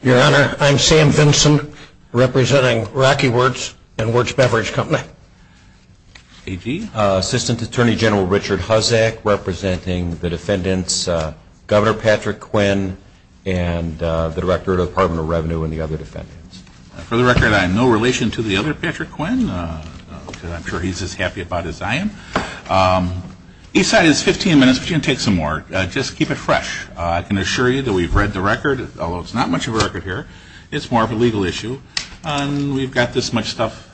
Your Honor, I'm Sam Vinson, representing Rocky Wirtz and Wirtz Beverage Company. AG? Assistant Attorney General Richard Huzzack, representing the defendants Governor Patrick Quinn and the Director of the Department of Revenue and the other defendants. For the record, I have no relation to the other Patrick Quinn, because I'm sure he's as happy about it as I am. Each side has 15 minutes, but you can take some more. Just keep it fresh. I can assure you that we've read the record, although it's not much of a record here. It's more of a legal issue. We've got this much stuff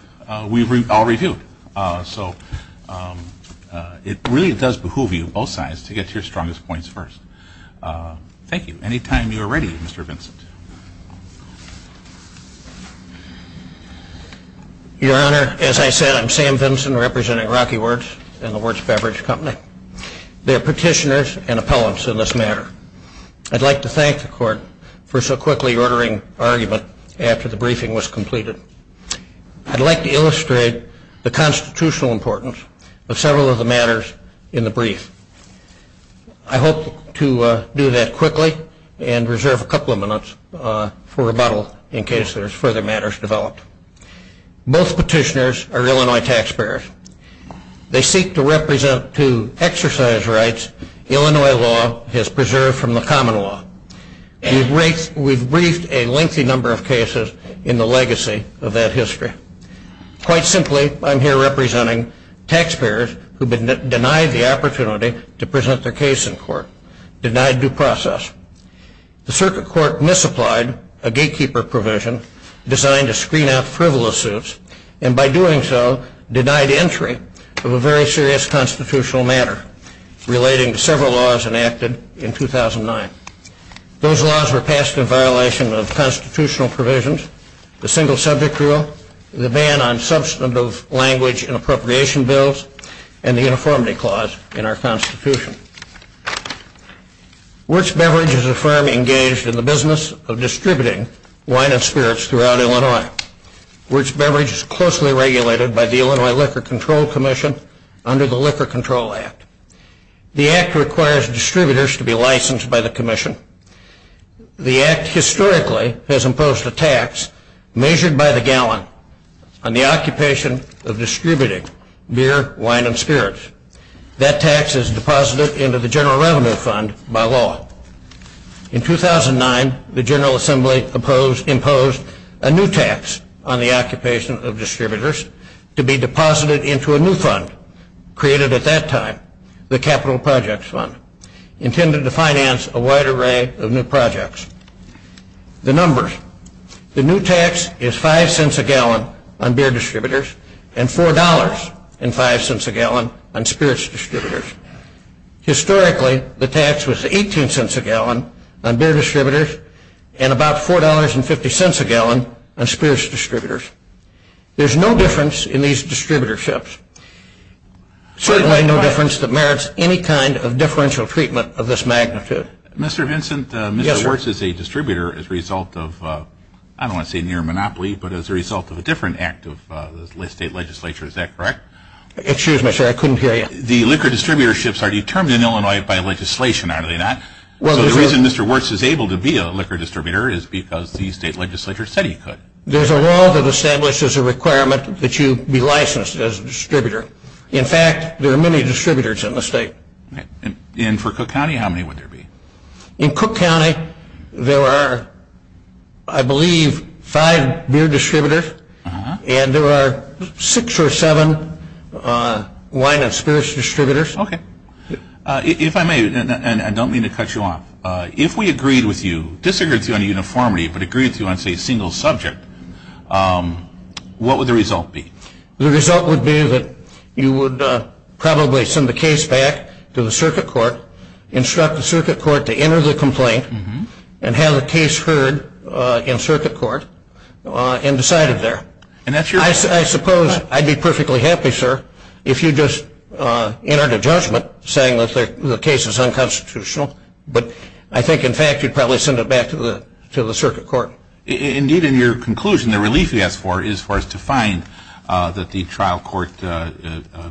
we've all reviewed. So it really does behoove you, both sides, to get your strongest points first. Thank you. Any time you are ready, Mr. Vinson. Your Honor, as I said, I'm Sam Vinson, representing Rocky Wirtz and the Wirtz Beverage Company. There are petitioners and appellants in this matter. I'd like to thank the Court for so quickly ordering argument after the briefing was completed. I'd like to illustrate the constitutional importance of several of the matters in the brief. I hope to do that quickly and reserve a couple of minutes for rebuttal in case there's further matters developed. Both petitioners are Illinois taxpayers. They seek to represent to exercise rights Illinois law has preserved from the common law. We've briefed a lengthy number of cases in the legacy of that history. Quite simply, I'm here representing taxpayers who have been denied the opportunity to present their case in court, denied due process. The Circuit Court misapplied a gatekeeper provision designed to screen out frivolous suits and by doing so denied entry of a very serious constitutional matter relating to several laws enacted in 2009. Those laws were passed in violation of constitutional provisions, the single subject rule, the ban on substantive language in appropriation bills, and the uniformity clause in our Constitution. Wirtz Beverage is a firm engaged in the business of distributing wine and spirits throughout Illinois. Wirtz Beverage is closely regulated by the Illinois Liquor Control Commission under the Liquor Control Act. The Act requires distributors to be licensed by the Commission. The Act historically has imposed a tax measured by the gallon on the occupation of distributing beer, wine, and spirits. That tax is deposited into the General Revenue Fund by law. In 2009, the General Assembly imposed a new tax on the occupation of distributors to be deposited into a new fund created at that time, the Capital Projects Fund, intended to finance a wide array of new projects. The numbers, the new tax is 5 cents a gallon on beer distributors and $4.05 a gallon on spirits distributors. Historically, the tax was 18 cents a gallon on beer distributors and about $4.50 a gallon on spirits distributors. There's no difference in these distributorships, certainly no difference that merits any kind of differential treatment of this magnitude. Mr. Vincent, Mr. Wirtz is a distributor as a result of, I don't want to say near monopoly, but as a result of a different act of the state legislature, is that correct? Excuse me, sir, I couldn't hear you. The liquor distributorships are determined in Illinois by legislation, are they not? So the reason Mr. Wirtz is able to be a liquor distributor is because the state legislature said he could. There's a law that establishes a requirement that you be licensed as a distributor. In fact, there are many distributors in the state. And for Cook County, how many would there be? In Cook County, there are, I believe, five beer distributors, and there are six or seven wine and spirits distributors. Okay. If I may, and I don't mean to cut you off, if we agreed with you, disagreed with you on uniformity, but agreed with you on, say, a single subject, what would the result be? The result would be that you would probably send the case back to the circuit court, instruct the circuit court to enter the complaint, and have the case heard in circuit court, and decide it there. I suppose I'd be perfectly happy, sir, if you just entered a judgment saying that the case is unconstitutional, but I think, in fact, you'd probably send it back to the circuit court. Indeed, in your conclusion, the relief he asked for is for us to find that the trial court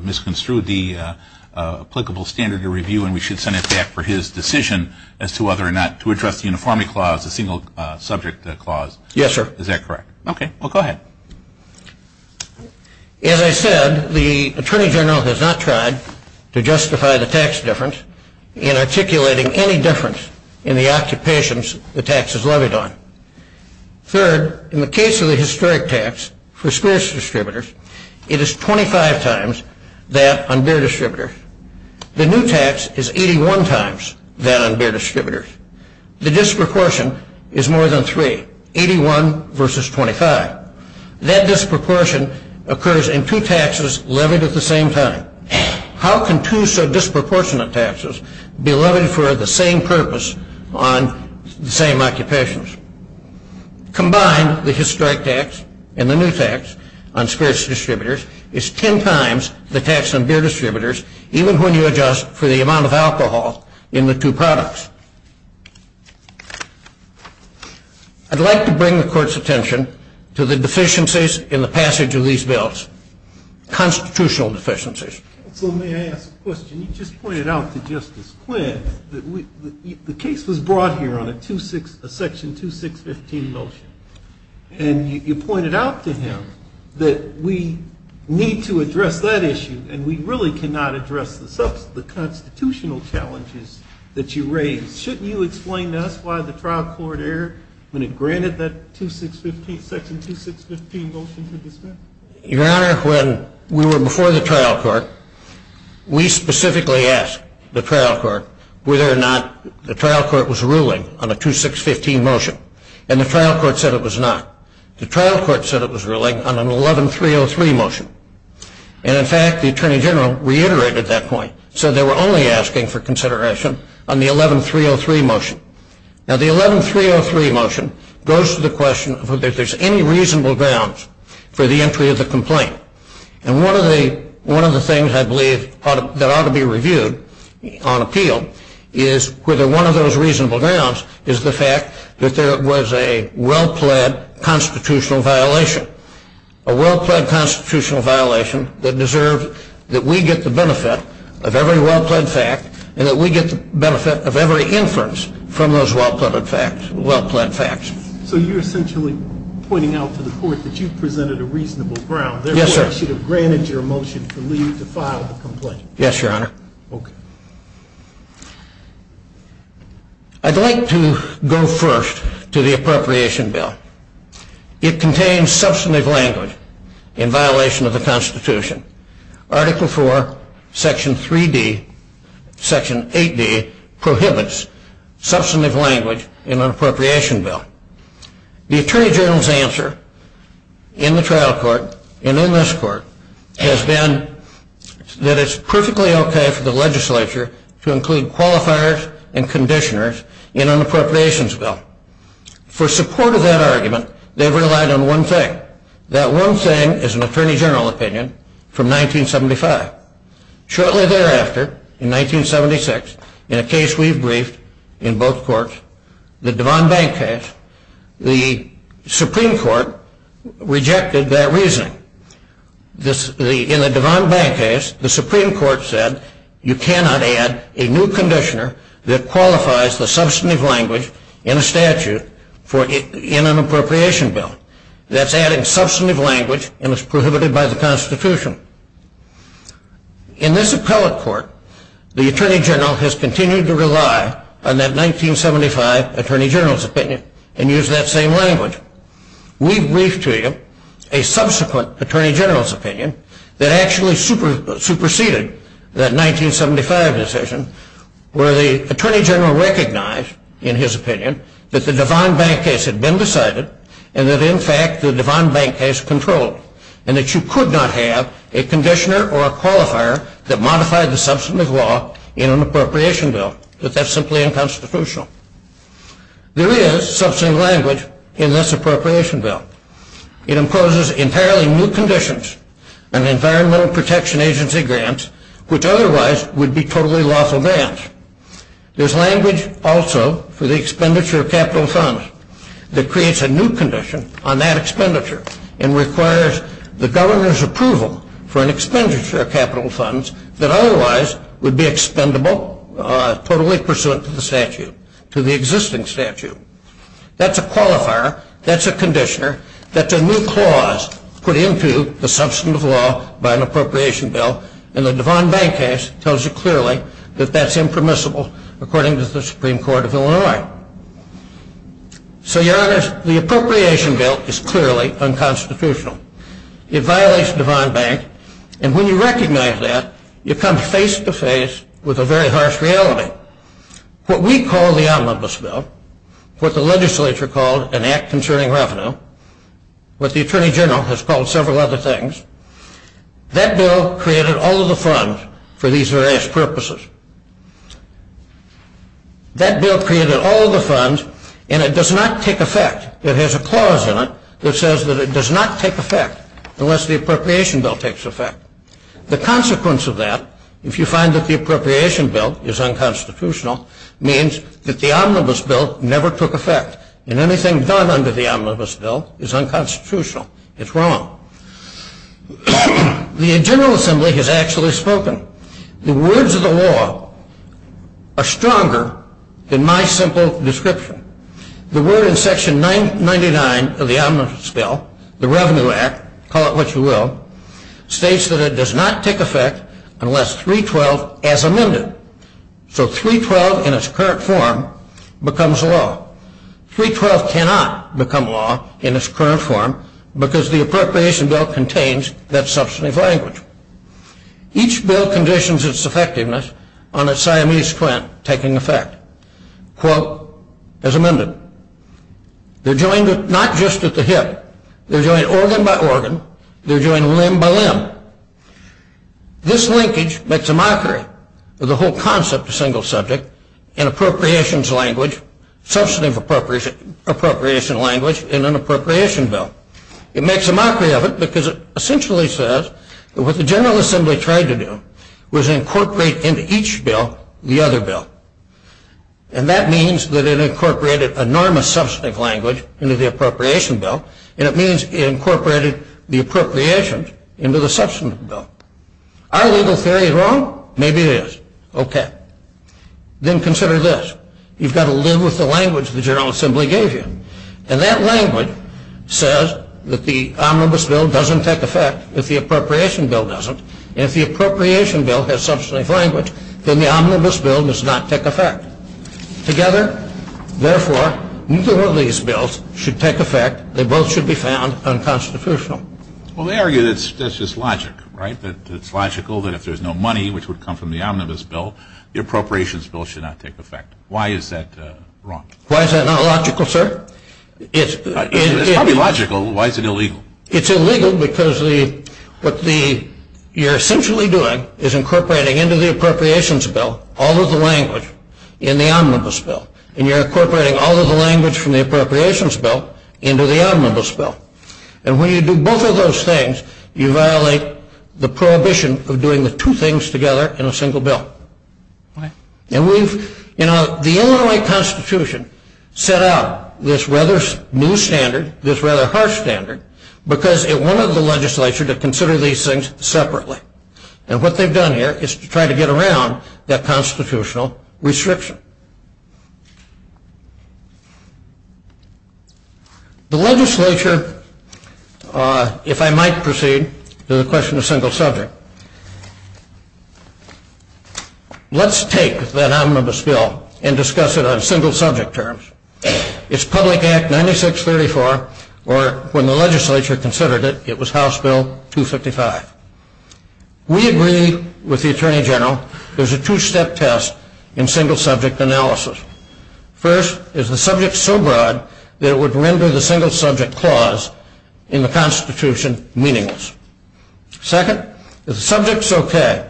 misconstrued the applicable standard of review, and we should send it back for his decision as to whether or not to address the uniformity clause, the single subject clause. Yes, sir. Is that correct? Okay. Well, go ahead. As I said, the Attorney General has not tried to justify the tax difference in articulating any difference in the occupations the tax is levied on. Third, in the case of the historic tax for spirits distributors, it is 25 times that on beer distributors. The new tax is 81 times that on beer distributors. The disproportion is more than three, 81 versus 25. That disproportion occurs in two taxes levied at the same time. How can two so disproportionate taxes be levied for the same purpose on the same occupations? Combined, the historic tax and the new tax on spirits distributors is 10 times the tax on beer distributors, even when you adjust for the amount of alcohol in the two products. I'd like to bring the Court's attention to the deficiencies in the passage of these bills, constitutional deficiencies. Counsel, may I ask a question? You just pointed out to Justice Quinn that the case was brought here on a section 2615 motion, and you pointed out to him that we need to address that issue, and we really cannot address the constitutional challenges that you raise. Shouldn't you explain to us why the trial court erred when it granted that section 2615 motion to dismiss? Your Honor, when we were before the trial court, we specifically asked the trial court whether or not the trial court was ruling on a 2615 motion, and the trial court said it was not. The trial court said it was ruling on an 11303 motion. And, in fact, the Attorney General reiterated that point, said they were only asking for consideration on the 11303 motion. Now, the 11303 motion goes to the question of whether there's any reasonable grounds for the entry of the complaint. And one of the things I believe that ought to be reviewed on appeal is whether one of those reasonable grounds is the fact that there was a well-pled constitutional violation. A well-pled constitutional violation that deserved that we get the benefit of every well-pled fact and that we get the benefit of every inference from those well-pled facts. So you're essentially pointing out to the court that you presented a reasonable ground. Yes, sir. Therefore, I should have granted your motion to leave to file the complaint. Yes, Your Honor. Okay. I'd like to go first to the appropriation bill. It contains substantive language in violation of the Constitution. Article 4, Section 3D, Section 8D prohibits substantive language in an appropriation bill. The Attorney General's answer in the trial court and in this court has been that it's perfectly okay for the legislature to include qualifiers and conditioners in an appropriations bill. For support of that argument, they've relied on one thing. That one thing is an Attorney General opinion from 1975. Shortly thereafter, in 1976, in a case we've briefed in both courts, the Devon Bank case, the Supreme Court rejected that reasoning. In the Devon Bank case, the Supreme Court said you cannot add a new conditioner that qualifies the substantive language in a statute in an appropriation bill. That's adding substantive language and it's prohibited by the Constitution. In this appellate court, the Attorney General has continued to rely on that 1975 Attorney General's opinion and use that same language. We've briefed to you a subsequent Attorney General's opinion that actually superseded that 1975 decision where the Attorney General recognized, in his opinion, that the Devon Bank case had been decided and that, in fact, the Devon Bank case controlled and that you could not have a conditioner or a qualifier that modified the substantive law in an appropriation bill, that that's simply unconstitutional. There is substantive language in this appropriation bill. It imposes entirely new conditions and Environmental Protection Agency grants, which otherwise would be totally lawful grants. There's language also for the expenditure of capital funds that creates a new condition on that expenditure and requires the Governor's approval for an expenditure of capital funds that otherwise would be expendable totally pursuant to the statute, to the existing statute. That's a qualifier. That's a conditioner. That's a new clause put into the substantive law by an appropriation bill and the Devon Bank case tells you clearly that that's impermissible according to the Supreme Court of Illinois. So, Your Honor, the appropriation bill is clearly unconstitutional. It violates Devon Bank and when you recognize that, you come face-to-face with a very harsh reality. What we call the omnibus bill, what the legislature called an act concerning revenue, what the Attorney General has called several other things, that bill created all of the funds for these various purposes. That bill created all of the funds and it does not take effect. It has a clause in it that says that it does not take effect unless the appropriation bill takes effect. The consequence of that, if you find that the appropriation bill is unconstitutional, means that the omnibus bill never took effect and anything done under the omnibus bill is unconstitutional. It's wrong. The General Assembly has actually spoken. The words of the law are stronger than my simple description. The word in Section 99 of the omnibus bill, the Revenue Act, call it what you will, states that it does not take effect unless 312 as amended. So 312 in its current form becomes law. 312 cannot become law in its current form because the appropriation bill contains that substantive language. Each bill conditions its effectiveness on a Siamese twin taking effect, quote, as amended. They're joined not just at the hip. They're joined organ by organ. They're joined limb by limb. This linkage makes a mockery of the whole concept of single subject and appropriations language, substantive appropriation language in an appropriation bill. It makes a mockery of it because it essentially says that what the General Assembly tried to do was incorporate into each bill the other bill. And that means that it incorporated enormous substantive language into the appropriation bill, and it means it incorporated the appropriations into the substantive bill. Our legal theory is wrong? Maybe it is. Okay. Then consider this. You've got to live with the language the General Assembly gave you, and that language says that the omnibus bill doesn't take effect if the appropriation bill doesn't, and if the appropriation bill has substantive language, then the omnibus bill does not take effect. Together, therefore, neither of these bills should take effect. They both should be found unconstitutional. Well, they argue that's just logic, right, that it's logical that if there's no money, which would come from the omnibus bill, the appropriations bill should not take effect. Why is that wrong? Why is that not logical, sir? It's probably logical. Why is it illegal? It's illegal because what you're essentially doing is incorporating into the appropriations bill all of the language in the omnibus bill, and you're incorporating all of the language from the appropriations bill into the omnibus bill. And when you do both of those things, you violate the prohibition of doing the two things together in a single bill. And we've, you know, the Illinois Constitution set up this rather new standard, this rather harsh standard, because it wanted the legislature to consider these things separately. And what they've done here is to try to get around that constitutional restriction. The legislature, if I might proceed to the question of single subject, let's take that omnibus bill and discuss it on single subject terms. It's Public Act 9634, or when the legislature considered it, it was House Bill 255. We agree with the Attorney General there's a two-step test in single subject terms. First, is the subject so broad that it would render the single subject clause in the Constitution meaningless? Second, is the subject so vague?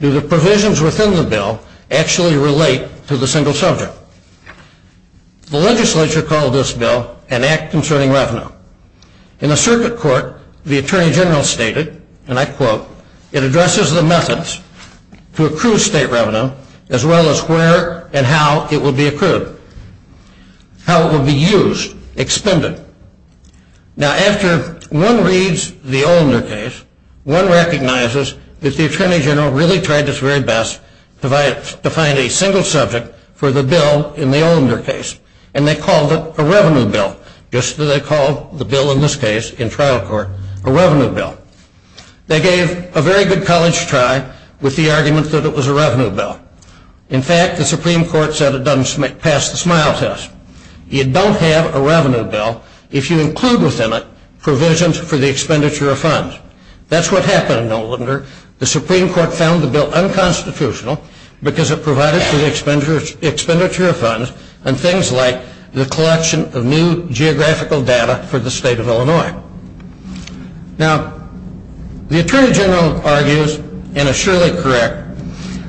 Do the provisions within the bill actually relate to the single subject? The legislature called this bill an Act Concerning Revenue. In the circuit court, the Attorney General stated, and I quote, it addresses the methods to accrue state revenue, as well as where and how it will be accrued, how it will be used, expended. Now, after one reads the Olinder case, one recognizes that the Attorney General really tried his very best to find a single subject for the bill in the Olinder case, and they called it a revenue bill, just as they called the bill in this case, in trial court, a revenue bill. They gave a very good college try with the argument that it was a revenue bill. In fact, the Supreme Court said it doesn't pass the smile test. You don't have a revenue bill if you include within it provisions for the expenditure of funds. That's what happened in Olinder. The Supreme Court found the bill unconstitutional because it provided for the expenditure of funds and things like the collection of new geographical data for the state of Illinois. Now, the Attorney General argues, and is surely correct,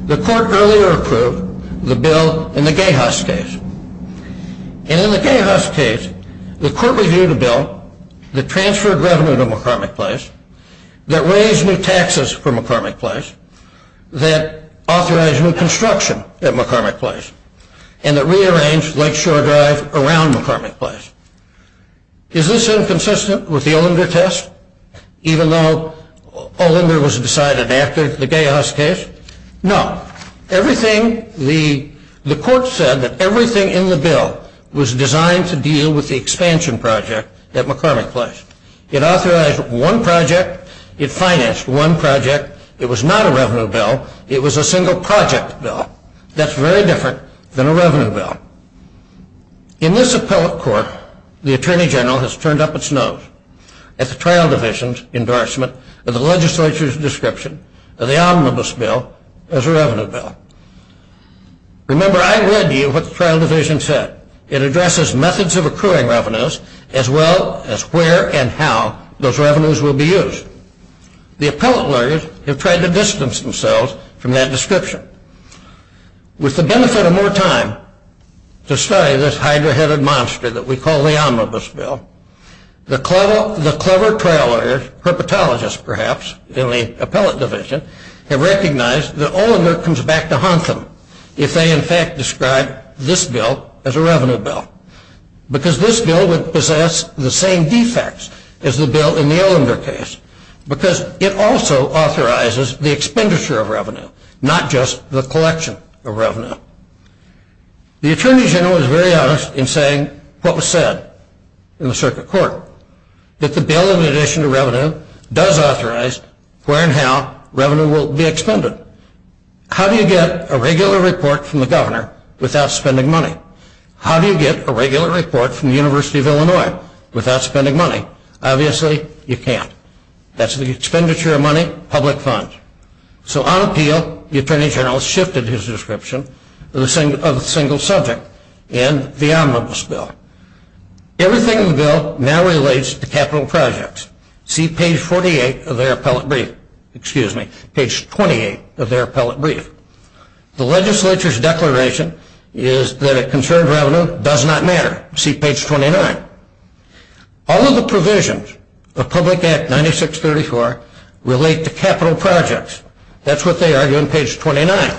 the court earlier approved the bill in the Gay-Huss case. And in the Gay-Huss case, the court reviewed a bill that transferred revenue to McCormick Place, that raised new taxes for McCormick Place, that authorized new construction at McCormick Place, and that rearranged Lake Shore Drive around McCormick Place. Is this inconsistent with the Olinder test, even though Olinder was decided after the Gay-Huss case? No. The court said that everything in the bill was designed to deal with the expansion project at McCormick Place. It authorized one project. It financed one project. It was not a revenue bill. It was a single project bill. That's very different than a revenue bill. In this appellate court, the Attorney General has turned up its nose at the trial division's endorsement of the legislature's description of the omnibus bill as a revenue bill. Remember, I read you what the trial division said. It addresses methods of accruing revenues as well as where and how those revenues will be used. The appellate lawyers have tried to distance themselves from that description. With the benefit of more time to study this hydra-headed monster that we call the omnibus bill, the clever trial lawyers, herpetologists perhaps in the appellate division, have recognized that Olinder comes back to haunt them if they in fact describe this bill as a revenue bill because this bill would possess the same defects as the bill in the Olinder case because it also authorizes the expenditure of revenue, not just the collection of revenue. The Attorney General is very honest in saying what was said in the circuit court, that the bill in addition to revenue does authorize where and how revenue will be expended. How do you get a regular report from the governor without spending money? How do you get a regular report from the University of Illinois without spending money? Obviously, you can't. That's the expenditure of money, public funds. So on appeal, the Attorney General shifted his description of a single subject in the omnibus bill. Everything in the bill now relates to capital projects. See page 48 of their appellate brief. Excuse me, page 28 of their appellate brief. The legislature's declaration is that a concerned revenue does not matter. See page 29. All of the provisions of Public Act 9634 relate to capital projects. That's what they argue in page 29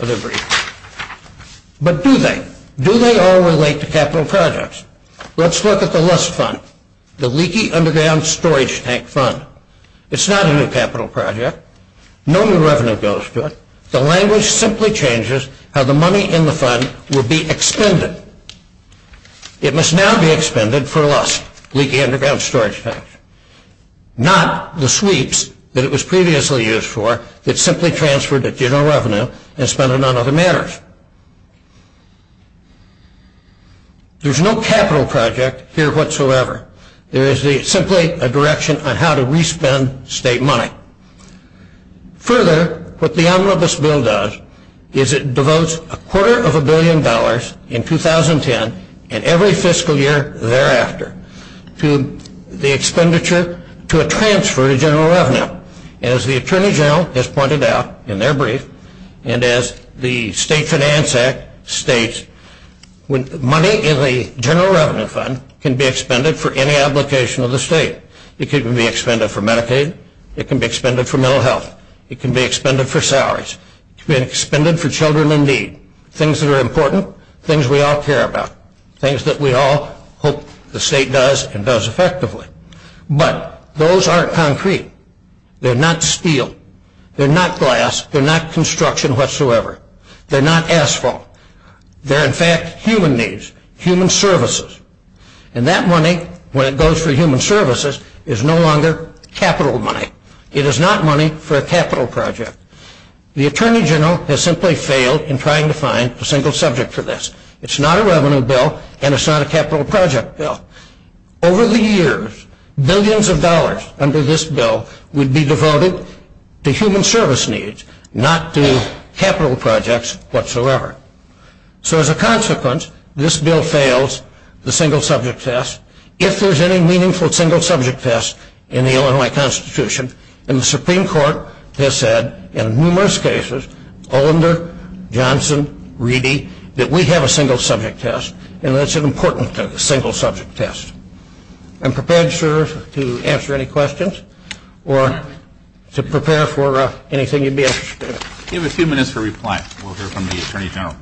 of their brief. But do they? Do they all relate to capital projects? Let's look at the Lust Fund, the leaky underground storage tank fund. It's not a new capital project. No new revenue goes to it. The language simply changes how the money in the fund will be expended. It must now be expended for lust, leaky underground storage tanks. Not the sweeps that it was previously used for, that's simply transferred at general revenue and spent on other matters. There's no capital project here whatsoever. There is simply a direction on how to re-spend state money. Further, what the omnibus bill does is it devotes a quarter of a billion dollars in 2010 and every fiscal year thereafter to a transfer to general revenue. As the Attorney General has pointed out in their brief, and as the State Finance Act states, money in the general revenue fund can be expended for any application of the state. It can be expended for Medicaid. It can be expended for mental health. It can be expended for salaries. It can be expended for children in need, things that are important, things we all care about, things that we all hope the state does and does effectively. But those aren't concrete. They're not steel. They're not glass. They're not construction whatsoever. They're not asphalt. They're, in fact, human needs, human services. And that money, when it goes for human services, is no longer capital money. It is not money for a capital project. The Attorney General has simply failed in trying to find a single subject for this. It's not a revenue bill and it's not a capital project bill. Over the years, billions of dollars under this bill would be devoted to human service needs, not to capital projects whatsoever. So, as a consequence, this bill fails the single subject test, if there's any meaningful single subject test in the Illinois Constitution. And the Supreme Court has said in numerous cases, Olinder, Johnson, Reedy, that we have a single subject test and that it's important to have a single subject test. I'm prepared, sir, to answer any questions or to prepare for anything you'd be interested in. We have a few minutes for reply. We'll hear from the Attorney General.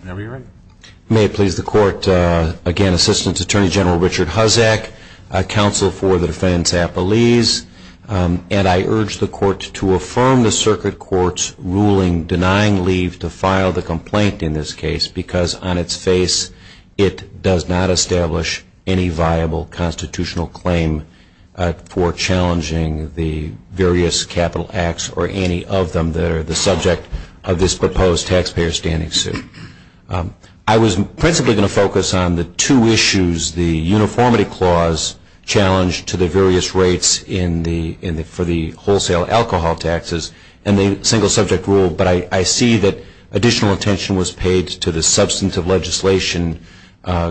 Whenever you're ready. May it please the Court, again, Assistant Attorney General Richard Huzzack, Counsel for the Defense Appellees, and I urge the Court to affirm the Circuit Court's ruling denying leave to file the complaint in this case because on its face it does not establish any viable constitutional claim for challenging the various capital acts or any of them that are the subject of this proposed taxpayer standing suit. I was principally going to focus on the two issues, the uniformity clause challenged to the various rates for the wholesale alcohol taxes and the single subject rule, but I see that additional attention was paid to the substantive legislation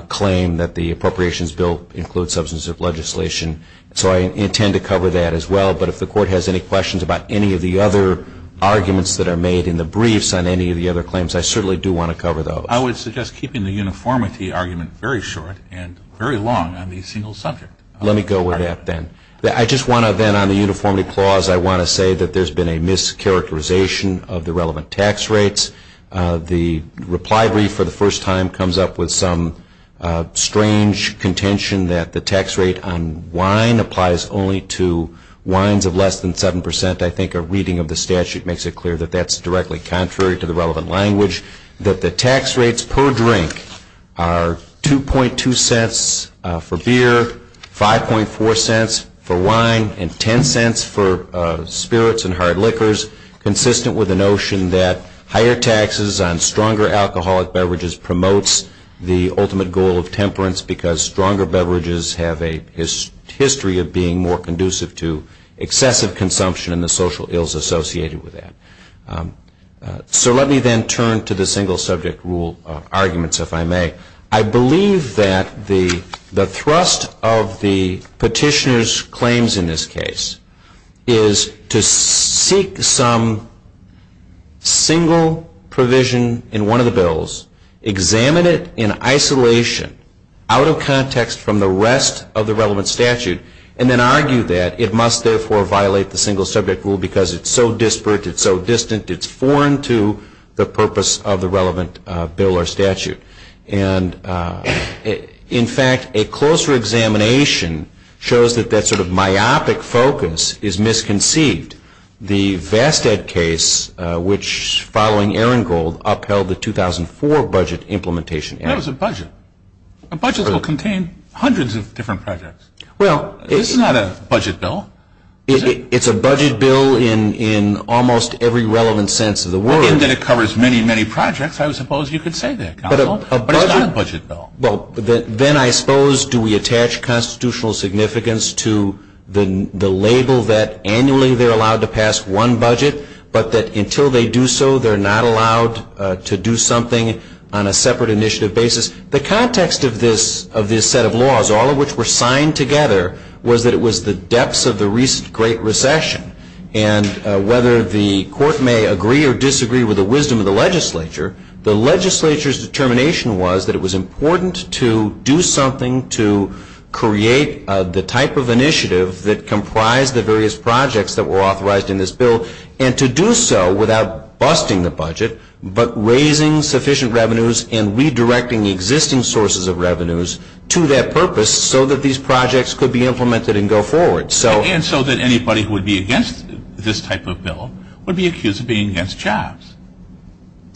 claim that the Appropriations Bill includes substantive legislation. So I intend to cover that as well, but if the Court has any questions about any of the other arguments that are made in the briefs on any of the other claims, I certainly do want to cover those. I would suggest keeping the uniformity argument very short and very long on the single subject. Let me go with that then. I just want to then on the uniformity clause, I want to say that there's been a mischaracterization of the relevant tax rates. The reply brief for the first time comes up with some strange contention that the tax rate on wine applies only to wines of less than 7 percent. I think a reading of the statute makes it clear that that's directly contrary to the relevant language, that the tax rates per drink are 2.2 cents for beer, 5.4 cents for wine, and 10 cents for spirits and hard liquors, consistent with the notion that higher taxes on stronger alcoholic beverages promotes the ultimate goal of temperance because stronger beverages have a history of being more conducive to excessive consumption and the social ills associated with that. So let me then turn to the single subject rule arguments, if I may. I believe that the thrust of the petitioner's claims in this case is to seek some single provision in one of the bills, examine it in isolation, out of context from the rest of the relevant statute, and then argue that it must, therefore, violate the single subject rule because it's so disparate, it's so distant, it's foreign to the purpose of the relevant bill or statute. And in fact, a closer examination shows that that sort of myopic focus is misconceived. The Vastead case, which, following Ehrengold, upheld the 2004 budget implementation. That was a budget. A budget will contain hundreds of different projects. Well, it's not a budget bill. It's a budget bill in almost every relevant sense of the word. And it covers many, many projects. I suppose you could say that, counsel. But it's not a budget bill. Well, then I suppose do we attach constitutional significance to the label that annually they're allowed to pass one budget but that until they do so they're not allowed to do something on a separate initiative basis. The context of this set of laws, all of which were signed together, was that it was the depths of the great recession. And whether the court may agree or disagree with the wisdom of the legislature, the legislature's determination was that it was important to do something to create the type of initiative that comprised the various projects that were authorized in this bill, and to do so without busting the budget but raising sufficient revenues and redirecting the existing sources of revenues to that purpose so that these projects could be implemented and go forward. And so that anybody who would be against this type of bill would be accused of being against jobs.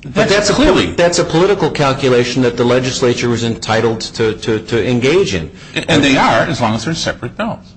But that's a political calculation that the legislature is entitled to engage in. And they are, as long as they're separate bills.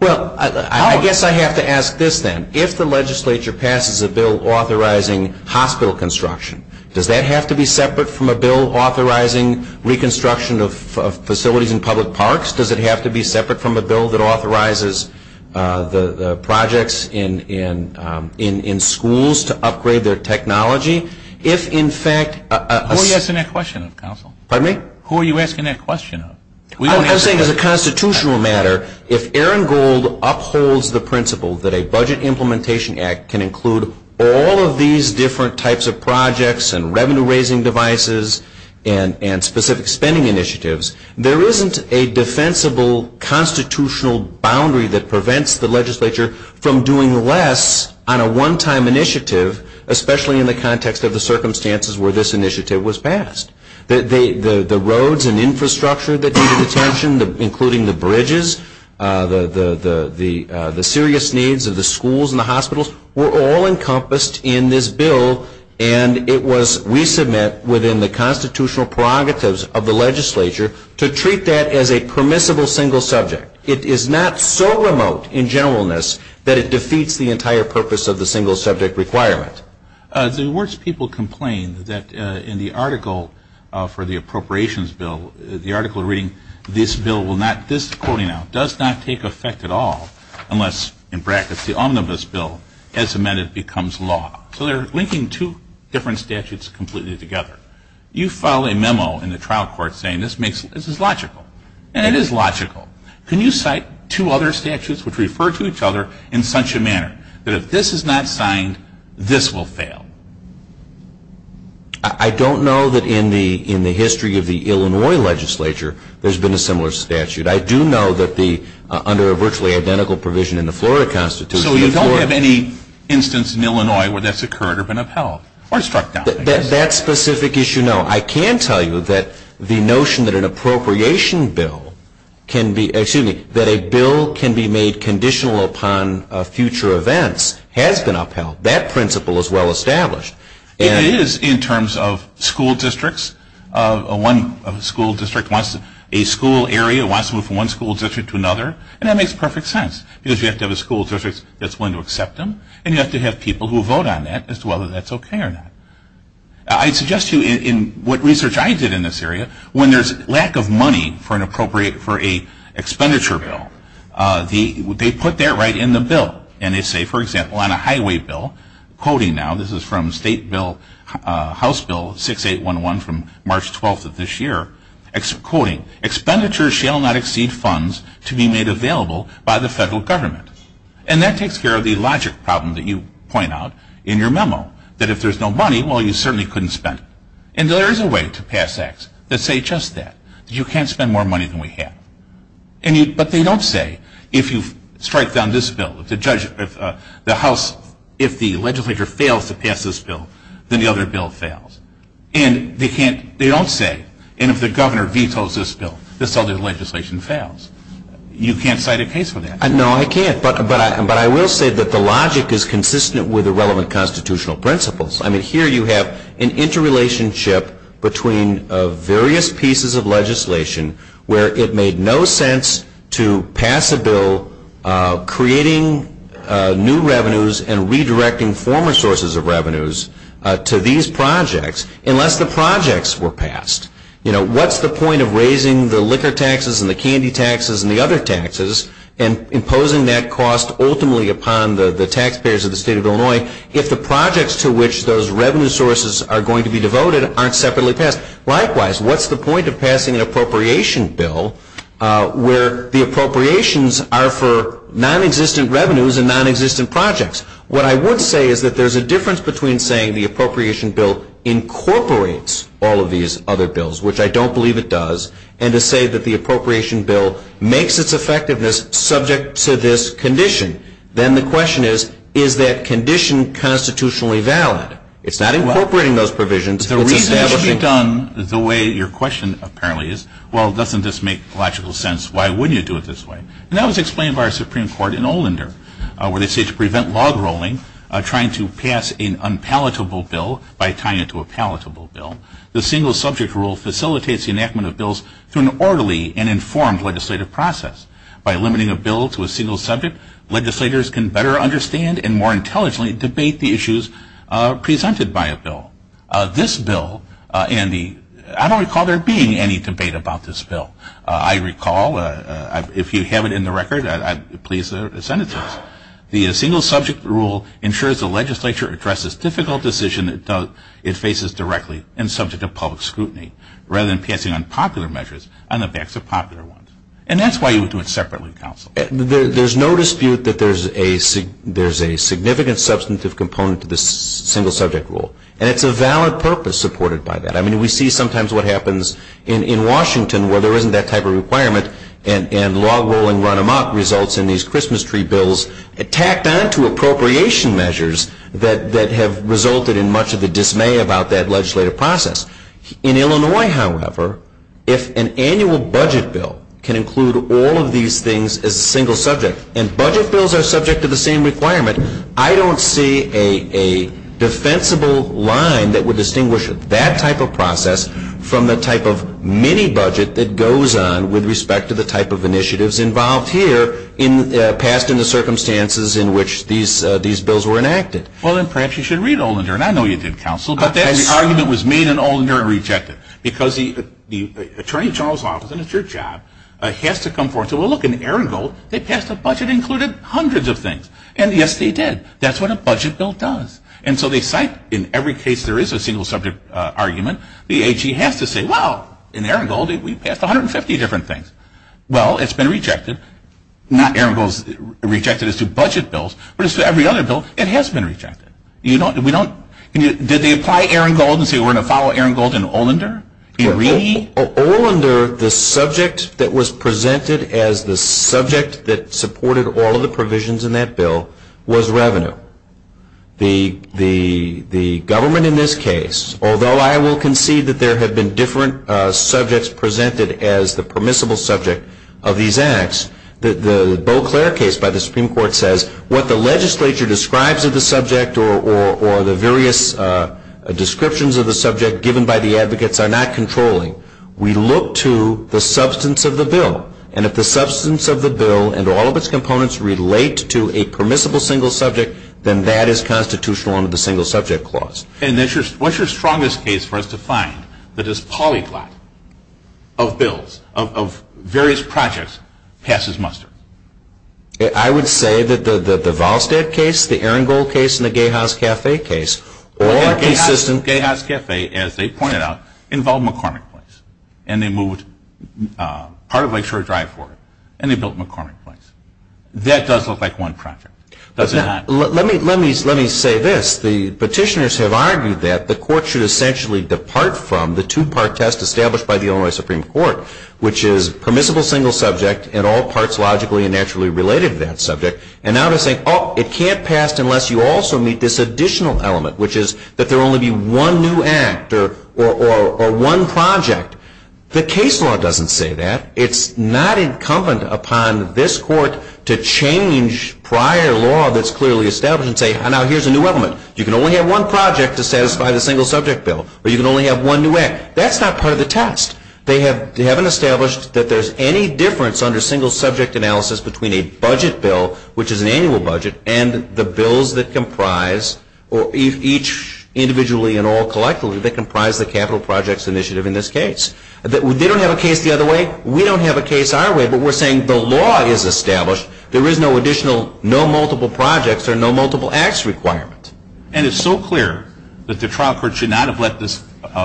Well, I guess I have to ask this then. If the legislature passes a bill authorizing hospital construction, does that have to be separate from a bill authorizing reconstruction of facilities in public parks? Does it have to be separate from a bill that authorizes the projects in schools to upgrade their technology? Who are you asking that question of, counsel? Pardon me? Who are you asking that question of? I'm saying as a constitutional matter, if Aaron Gold upholds the principle that a Budget Implementation Act can include all of these different types of projects and revenue-raising devices and specific spending initiatives, there isn't a defensible constitutional boundary that prevents the legislature from doing less on a one-time initiative, especially in the context of the circumstances where this initiative was passed. The roads and infrastructure that needed attention, including the bridges, the serious needs of the schools and the hospitals, were all encompassed in this bill. And it was, we submit, within the constitutional prerogatives of the legislature to treat that as a permissible single subject. It is not so remote in generalness that it defeats the entire purpose of the single subject requirement. The words people complain that in the article for the Appropriations Bill, the article reading, this bill will not, this, quoting now, does not take effect at all unless, in brackets, the omnibus bill as amended becomes law. So they're linking two different statutes completely together. You file a memo in the trial court saying this is logical. And it is logical. Can you cite two other statutes which refer to each other in such a manner that if this is not signed, this will fail? I don't know that in the history of the Illinois legislature there's been a similar statute. I do know that under a virtually identical provision in the Florida Constitution. So you don't have any instance in Illinois where that's occurred or been upheld or struck down? That specific issue, no. I can tell you that the notion that an appropriation bill can be, excuse me, that a bill can be made conditional upon future events has been upheld. That principle is well established. It is in terms of school districts. One school district wants a school area, wants to move from one school district to another. And that makes perfect sense because you have to have a school district that's willing to accept them. And you have to have people who vote on that as to whether that's okay or not. I suggest to you in what research I did in this area, when there's lack of money for an appropriate, for a expenditure bill, they put that right in the bill. And they say, for example, on a highway bill, quoting now, this is from State House Bill 6811 from March 12th of this year, quoting, expenditures shall not exceed funds to be made available by the federal government. And that takes care of the logic problem that you point out in your memo. That if there's no money, well, you certainly couldn't spend it. And there is a way to pass acts that say just that, that you can't spend more money than we have. But they don't say, if you strike down this bill, if the legislature fails to pass this bill, then the other bill fails. And they don't say, and if the governor vetoes this bill, this other legislation fails. You can't cite a case for that. No, I can't. But I will say that the logic is consistent with the relevant constitutional principles. I mean, here you have an interrelationship between various pieces of legislation where it made no sense to pass a bill creating new revenues and redirecting former sources of revenues to these projects unless the projects were passed. What's the point of raising the liquor taxes and the candy taxes and the other taxes and imposing that cost ultimately upon the taxpayers of the state of Illinois if the projects to which those revenue sources are going to be devoted aren't separately passed? Likewise, what's the point of passing an appropriation bill where the appropriations are for nonexistent revenues and nonexistent projects? What I would say is that there's a difference between saying the appropriation bill incorporates all of these other bills, which I don't believe it does, and to say that the appropriation bill makes its effectiveness subject to this condition. Then the question is, is that condition constitutionally valid? It's not incorporating those provisions. The reason it should be done the way your question apparently is, well, doesn't this make logical sense? Why wouldn't you do it this way? And that was explained by our Supreme Court in Olinder where they say to prevent log rolling, trying to pass an unpalatable bill by tying it to a palatable bill, the single subject rule facilitates the enactment of bills through an orderly and informed legislative process. By limiting a bill to a single subject, legislators can better understand and more intelligently debate the issues presented by a bill. This bill, and I don't recall there being any debate about this bill. I recall, if you have it in the record, please send it to us. But the single subject rule ensures the legislature addresses difficult decisions it faces directly and subject to public scrutiny, rather than passing unpopular measures on the backs of popular ones. And that's why you would do it separately, counsel. There's no dispute that there's a significant substantive component to this single subject rule. And it's a valid purpose supported by that. I mean, we see sometimes what happens in Washington where there isn't that type of requirement and log rolling run them up results in these Christmas tree bills tacked on to appropriation measures that have resulted in much of the dismay about that legislative process. In Illinois, however, if an annual budget bill can include all of these things as a single subject and budget bills are subject to the same requirement, I don't see a defensible line that would distinguish that type of process from the type of mini-budget that goes on with respect to the type of initiatives involved here passed in the circumstances in which these bills were enacted. Well, then perhaps you should read Olinder. And I know you did, counsel. But that argument was made in Olinder and rejected. Because the Attorney General's Office, and it's your job, has to come forward and say, well, look, in Aragon, they passed a budget that included hundreds of things. And yes, they did. That's what a budget bill does. And so they cite in every case there is a single subject argument, the AG has to say, well, in Aragon, we passed 150 different things. Well, it's been rejected. Not Aragon is rejected as to budget bills, but as to every other bill, it has been rejected. Did they apply Aragon and say we're going to follow Aragon in Olinder? In Olinder, the subject that was presented as the subject that supported all of the provisions in that bill was revenue. The government in this case, although I will concede that there have been different subjects presented as the permissible subject of these acts, the Beauclair case by the Supreme Court says what the legislature describes of the subject or the various descriptions of the subject given by the advocates are not controlling. We look to the substance of the bill. And if the substance of the bill and all of its components relate to a permissible single subject, then that is constitutional under the single subject clause. And what's your strongest case for us to find that this polyglot of bills, of various projects, passes muster? I would say that the Valstead case, the Arangold case, and the Gay House Cafe case are consistent. The Arangold, Gay House Cafe, as they pointed out, involved McCormick Place. And they moved part of Lake Shore Drive forward. And they built McCormick Place. That does look like one project. Let me say this. The petitioners have argued that the court should essentially depart from the two-part test established by the Illinois Supreme Court, which is permissible single subject in all parts logically and naturally related to that subject. And now they're saying, oh, it can't pass unless you also meet this additional element, which is that there will only be one new act or one project. The case law doesn't say that. It's not incumbent upon this court to change prior law that's clearly established and say, now here's a new element. You can only have one project to satisfy the single subject bill. Or you can only have one new act. That's not part of the test. They haven't established that there's any difference under single subject analysis between a budget bill, which is an annual budget, and the bills that comprise, each individually and all collectively, that comprise the capital projects initiative in this case. They don't have a case the other way. We don't have a case our way. But we're saying the law is established. There is no additional, no multiple projects or no multiple acts requirement. And it's so clear that the trial court should not have let this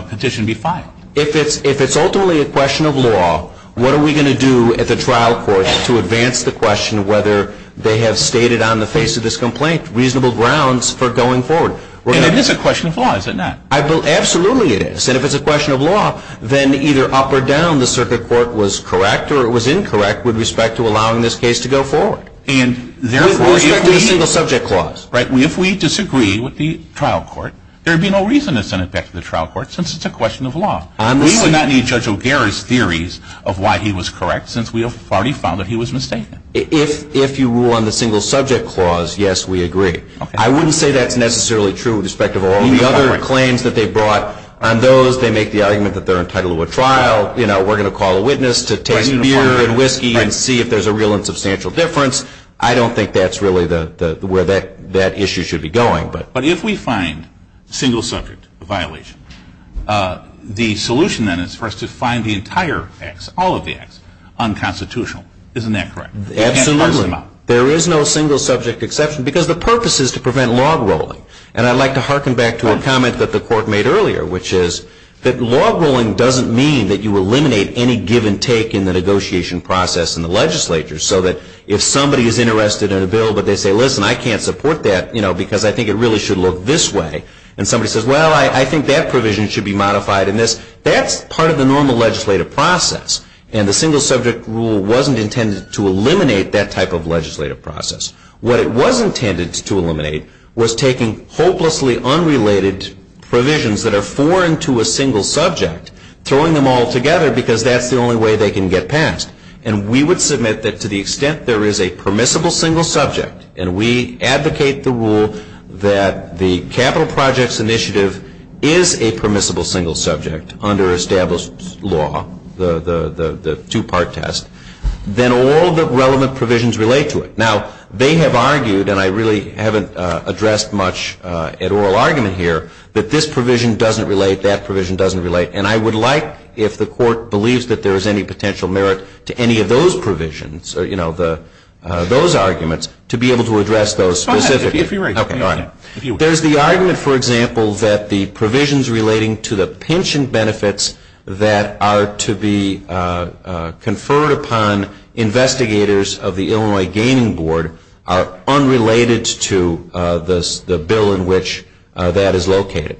petition be filed. If it's ultimately a question of law, what are we going to do at the trial court to advance the question whether they have stated on the face of this complaint reasonable grounds for going forward? And it is a question of law, is it not? Absolutely it is. And if it's a question of law, then either up or down the circuit court was correct or it was incorrect with respect to allowing this case to go forward. With respect to the single subject clause. If we disagree with the trial court, there would be no reason to send it back to the trial court since it's a question of law. We would not need Judge O'Gara's theories of why he was correct since we already found that he was mistaken. If you rule on the single subject clause, yes, we agree. I wouldn't say that's necessarily true with respect to all the other claims that they brought. On those, they make the argument that they're entitled to a trial. You know, we're going to call a witness to taste beer and whiskey and see if there's a real and substantial difference. I don't think that's really where that issue should be going. But if we find single subject violation, the solution then is for us to find the entire acts, all of the acts, unconstitutional. Isn't that correct? Absolutely. There is no single subject exception because the purpose is to prevent log rolling. And I'd like to harken back to a comment that the court made earlier, which is that log rolling doesn't mean that you eliminate any given take in the negotiation process in the legislature so that if somebody is interested in a bill but they say, listen, I can't support that because I think it really should look this way. And somebody says, well, I think that provision should be modified in this. That's part of the normal legislative process. And the single subject rule wasn't intended to eliminate that type of legislative process. What it was intended to eliminate was taking hopelessly unrelated provisions that are foreign to a single subject, throwing them all together because that's the only way they can get passed. And we would submit that to the extent there is a permissible single subject, and we advocate the rule that the Capital Projects Initiative is a permissible single subject under established law, the two-part test, then all the relevant provisions relate to it. Now, they have argued, and I really haven't addressed much at oral argument here, that this provision doesn't relate, that provision doesn't relate. And I would like, if the court believes that there is any potential merit to any of those provisions, you know, those arguments, to be able to address those specifically. Go ahead, if you're ready. There's the argument, for example, that the provisions relating to the pension benefits that are to be conferred upon investigators of the Illinois Gaining Board are unrelated to the bill in which that is located.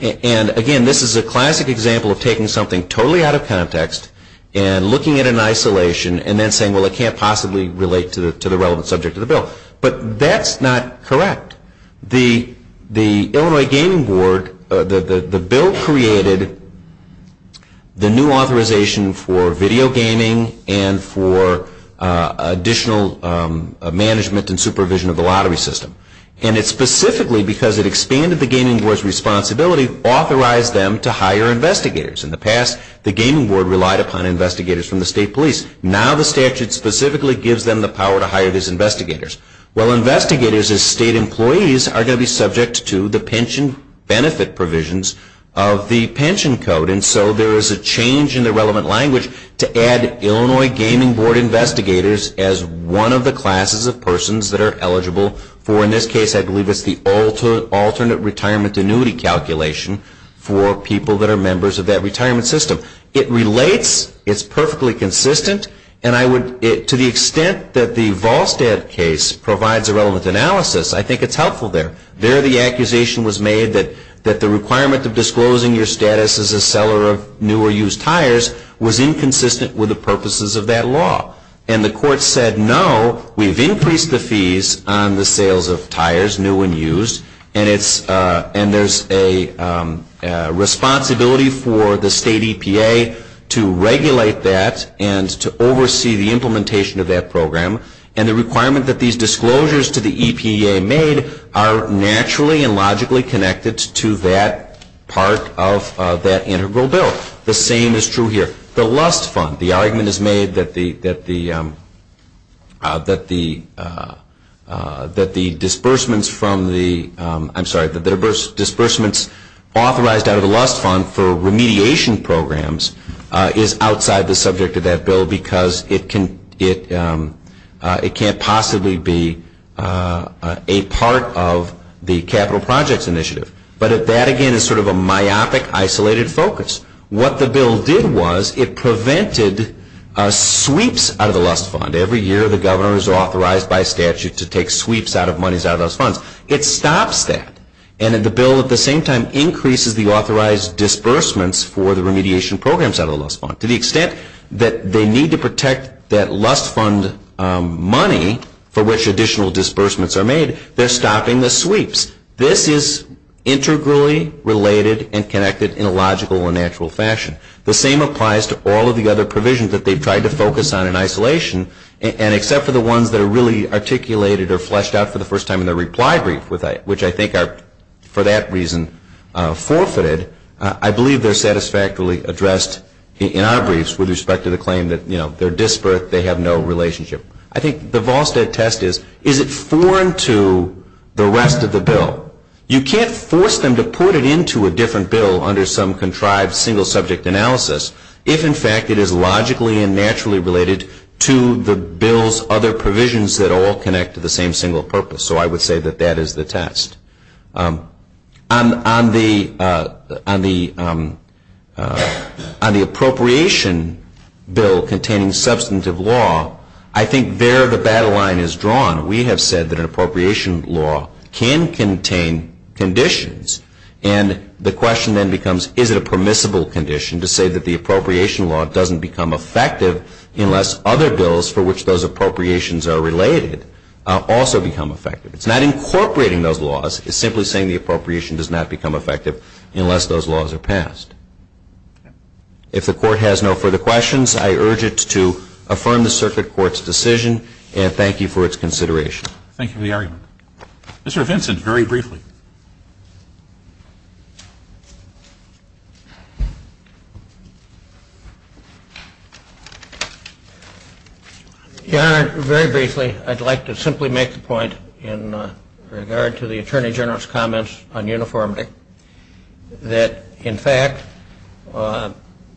And again, this is a classic example of taking something totally out of context and looking at it in isolation and then saying, well, it can't possibly relate to the relevant subject of the bill. But that's not correct. The Illinois Gaining Board, the bill created the new authorization for video gaming and for additional management and supervision of the lottery system. And it specifically, because it expanded the gaming board's responsibility, authorized them to hire investigators. In the past, the gaming board relied upon investigators from the state police. Now the statute specifically gives them the power to hire these investigators. Well, investigators as state employees are going to be subject to the pension benefit provisions of the pension code. And so there is a change in the relevant language to add Illinois Gaming Board investigators as one of the classes of persons that are eligible for, in this case, I believe it's the alternate retirement annuity calculation for people that are members of that retirement system. It relates. It's perfectly consistent. And to the extent that the Volstead case provides a relevant analysis, I think it's helpful there. There the accusation was made that the requirement of disclosing your status as a seller of new or used tires was inconsistent with the purposes of that law. And the court said, no, we've increased the fees on the sales of tires, new and used, and there's a responsibility for the state EPA to regulate that and to oversee the implementation of that program. And the requirement that these disclosures to the EPA made are naturally and logically connected to that part of that integral bill. The same is true here. The argument is made that the disbursements authorized out of the Lust Fund for remediation programs is outside the subject of that bill because it can't possibly be a part of the capital projects initiative. But that, again, is sort of a myopic, isolated focus. What the bill did was it prevented sweeps out of the Lust Fund. Every year the governor is authorized by statute to take sweeps out of monies out of Lust Funds. It stops that. And the bill at the same time increases the authorized disbursements for the remediation programs out of the Lust Fund. To the extent that they need to protect that Lust Fund money for which additional disbursements are made, they're stopping the sweeps. This is integrally related and connected in a logical and natural fashion. The same applies to all of the other provisions that they've tried to focus on in isolation. And except for the ones that are really articulated or fleshed out for the first time in their reply brief, which I think are, for that reason, forfeited, I believe they're satisfactorily addressed in our briefs with respect to the claim that, you know, they're disbursed, they have no relationship. I think the Volstead test is, is it foreign to the rest of the bill? You can't force them to put it into a different bill under some contrived single-subject analysis if, in fact, it is logically and naturally related to the bill's other provisions that all connect to the same single purpose. So I would say that that is the test. On the appropriation bill containing substantive law, I think there the battle line is drawn. We have said that an appropriation law can contain conditions. And the question then becomes, is it a permissible condition to say that the appropriation law doesn't become effective unless other bills for which those appropriations are related also become effective? It's not incorporating those laws. It's simply saying the appropriation does not become effective unless those laws are passed. If the Court has no further questions, I urge it to affirm the Circuit Court's decision, and thank you for its consideration. Thank you for the argument. Mr. Vincent, very briefly. Your Honor, very briefly, I'd like to simply make the point in regard to the Attorney General's comments on uniformity that, in fact,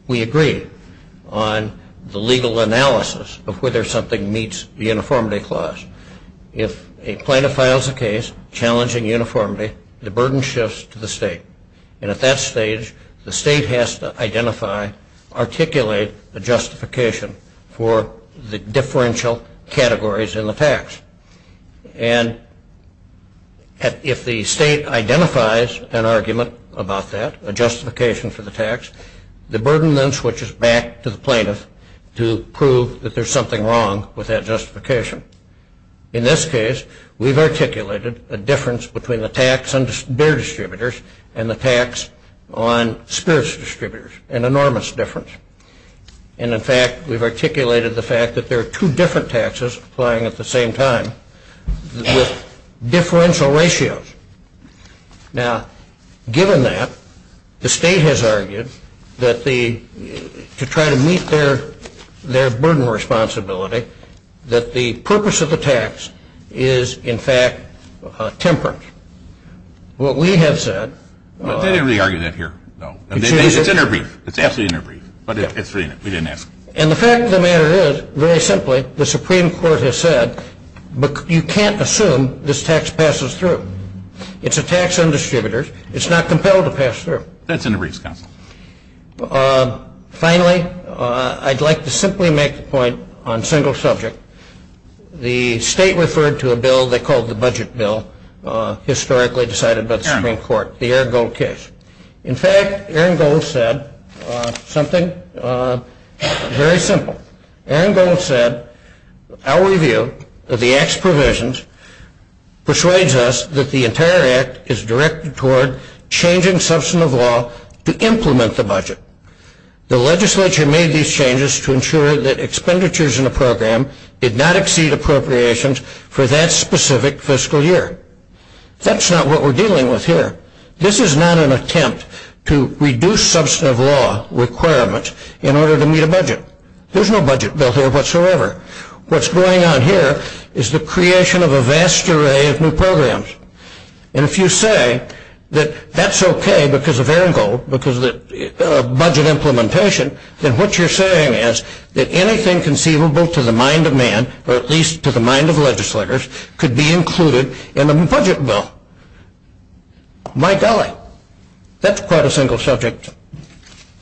we agree on the legal analysis of whether something meets the uniformity clause. If a plaintiff files a case challenging uniformity, the burden shifts to the state. And at that stage, the state has to identify, articulate a justification for the differential categories in the tax. And if the state identifies an argument about that, a justification for the tax, the burden then switches back to the plaintiff to prove that there's something wrong with that justification. In this case, we've articulated a difference between the tax on beer distributors and the tax on spirits distributors, an enormous difference. And, in fact, we've articulated the fact that there are two different taxes applying at the same time with differential ratios. Now, given that, the state has argued that to try to meet their burden responsibility, that the purpose of the tax is, in fact, tempered. What we have said- They didn't really argue that here, though. It's in our brief. It's absolutely in our brief. But it's really in it. We didn't ask. And the fact of the matter is, very simply, the Supreme Court has said you can't assume this tax passes through. It's a tax on distributors. It's not compelled to pass through. That's in the briefs, counsel. Finally, I'd like to simply make a point on a single subject. The state referred to a bill they called the Budget Bill, historically decided by the Supreme Court, the Aaron Gold case. In fact, Aaron Gold said something very simple. Aaron Gold said, our review of the Act's provisions persuades us that the entire Act is directed toward changing substance of law to implement the budget. The legislature made these changes to ensure that expenditures in a program did not exceed appropriations for that specific fiscal year. That's not what we're dealing with here. This is not an attempt to reduce substance of law requirements in order to meet a budget. There's no budget bill here whatsoever. What's going on here is the creation of a vast array of new programs. And if you say that that's okay because of Aaron Gold, because of budget implementation, then what you're saying is that anything conceivable to the mind of man, or at least to the mind of legislators, could be included in a budget bill. My golly. That's quite a single subject.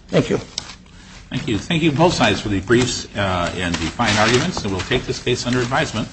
Thank you. Thank you. Thank you, both sides, for the briefs and the fine arguments. And we'll take this case under advisement.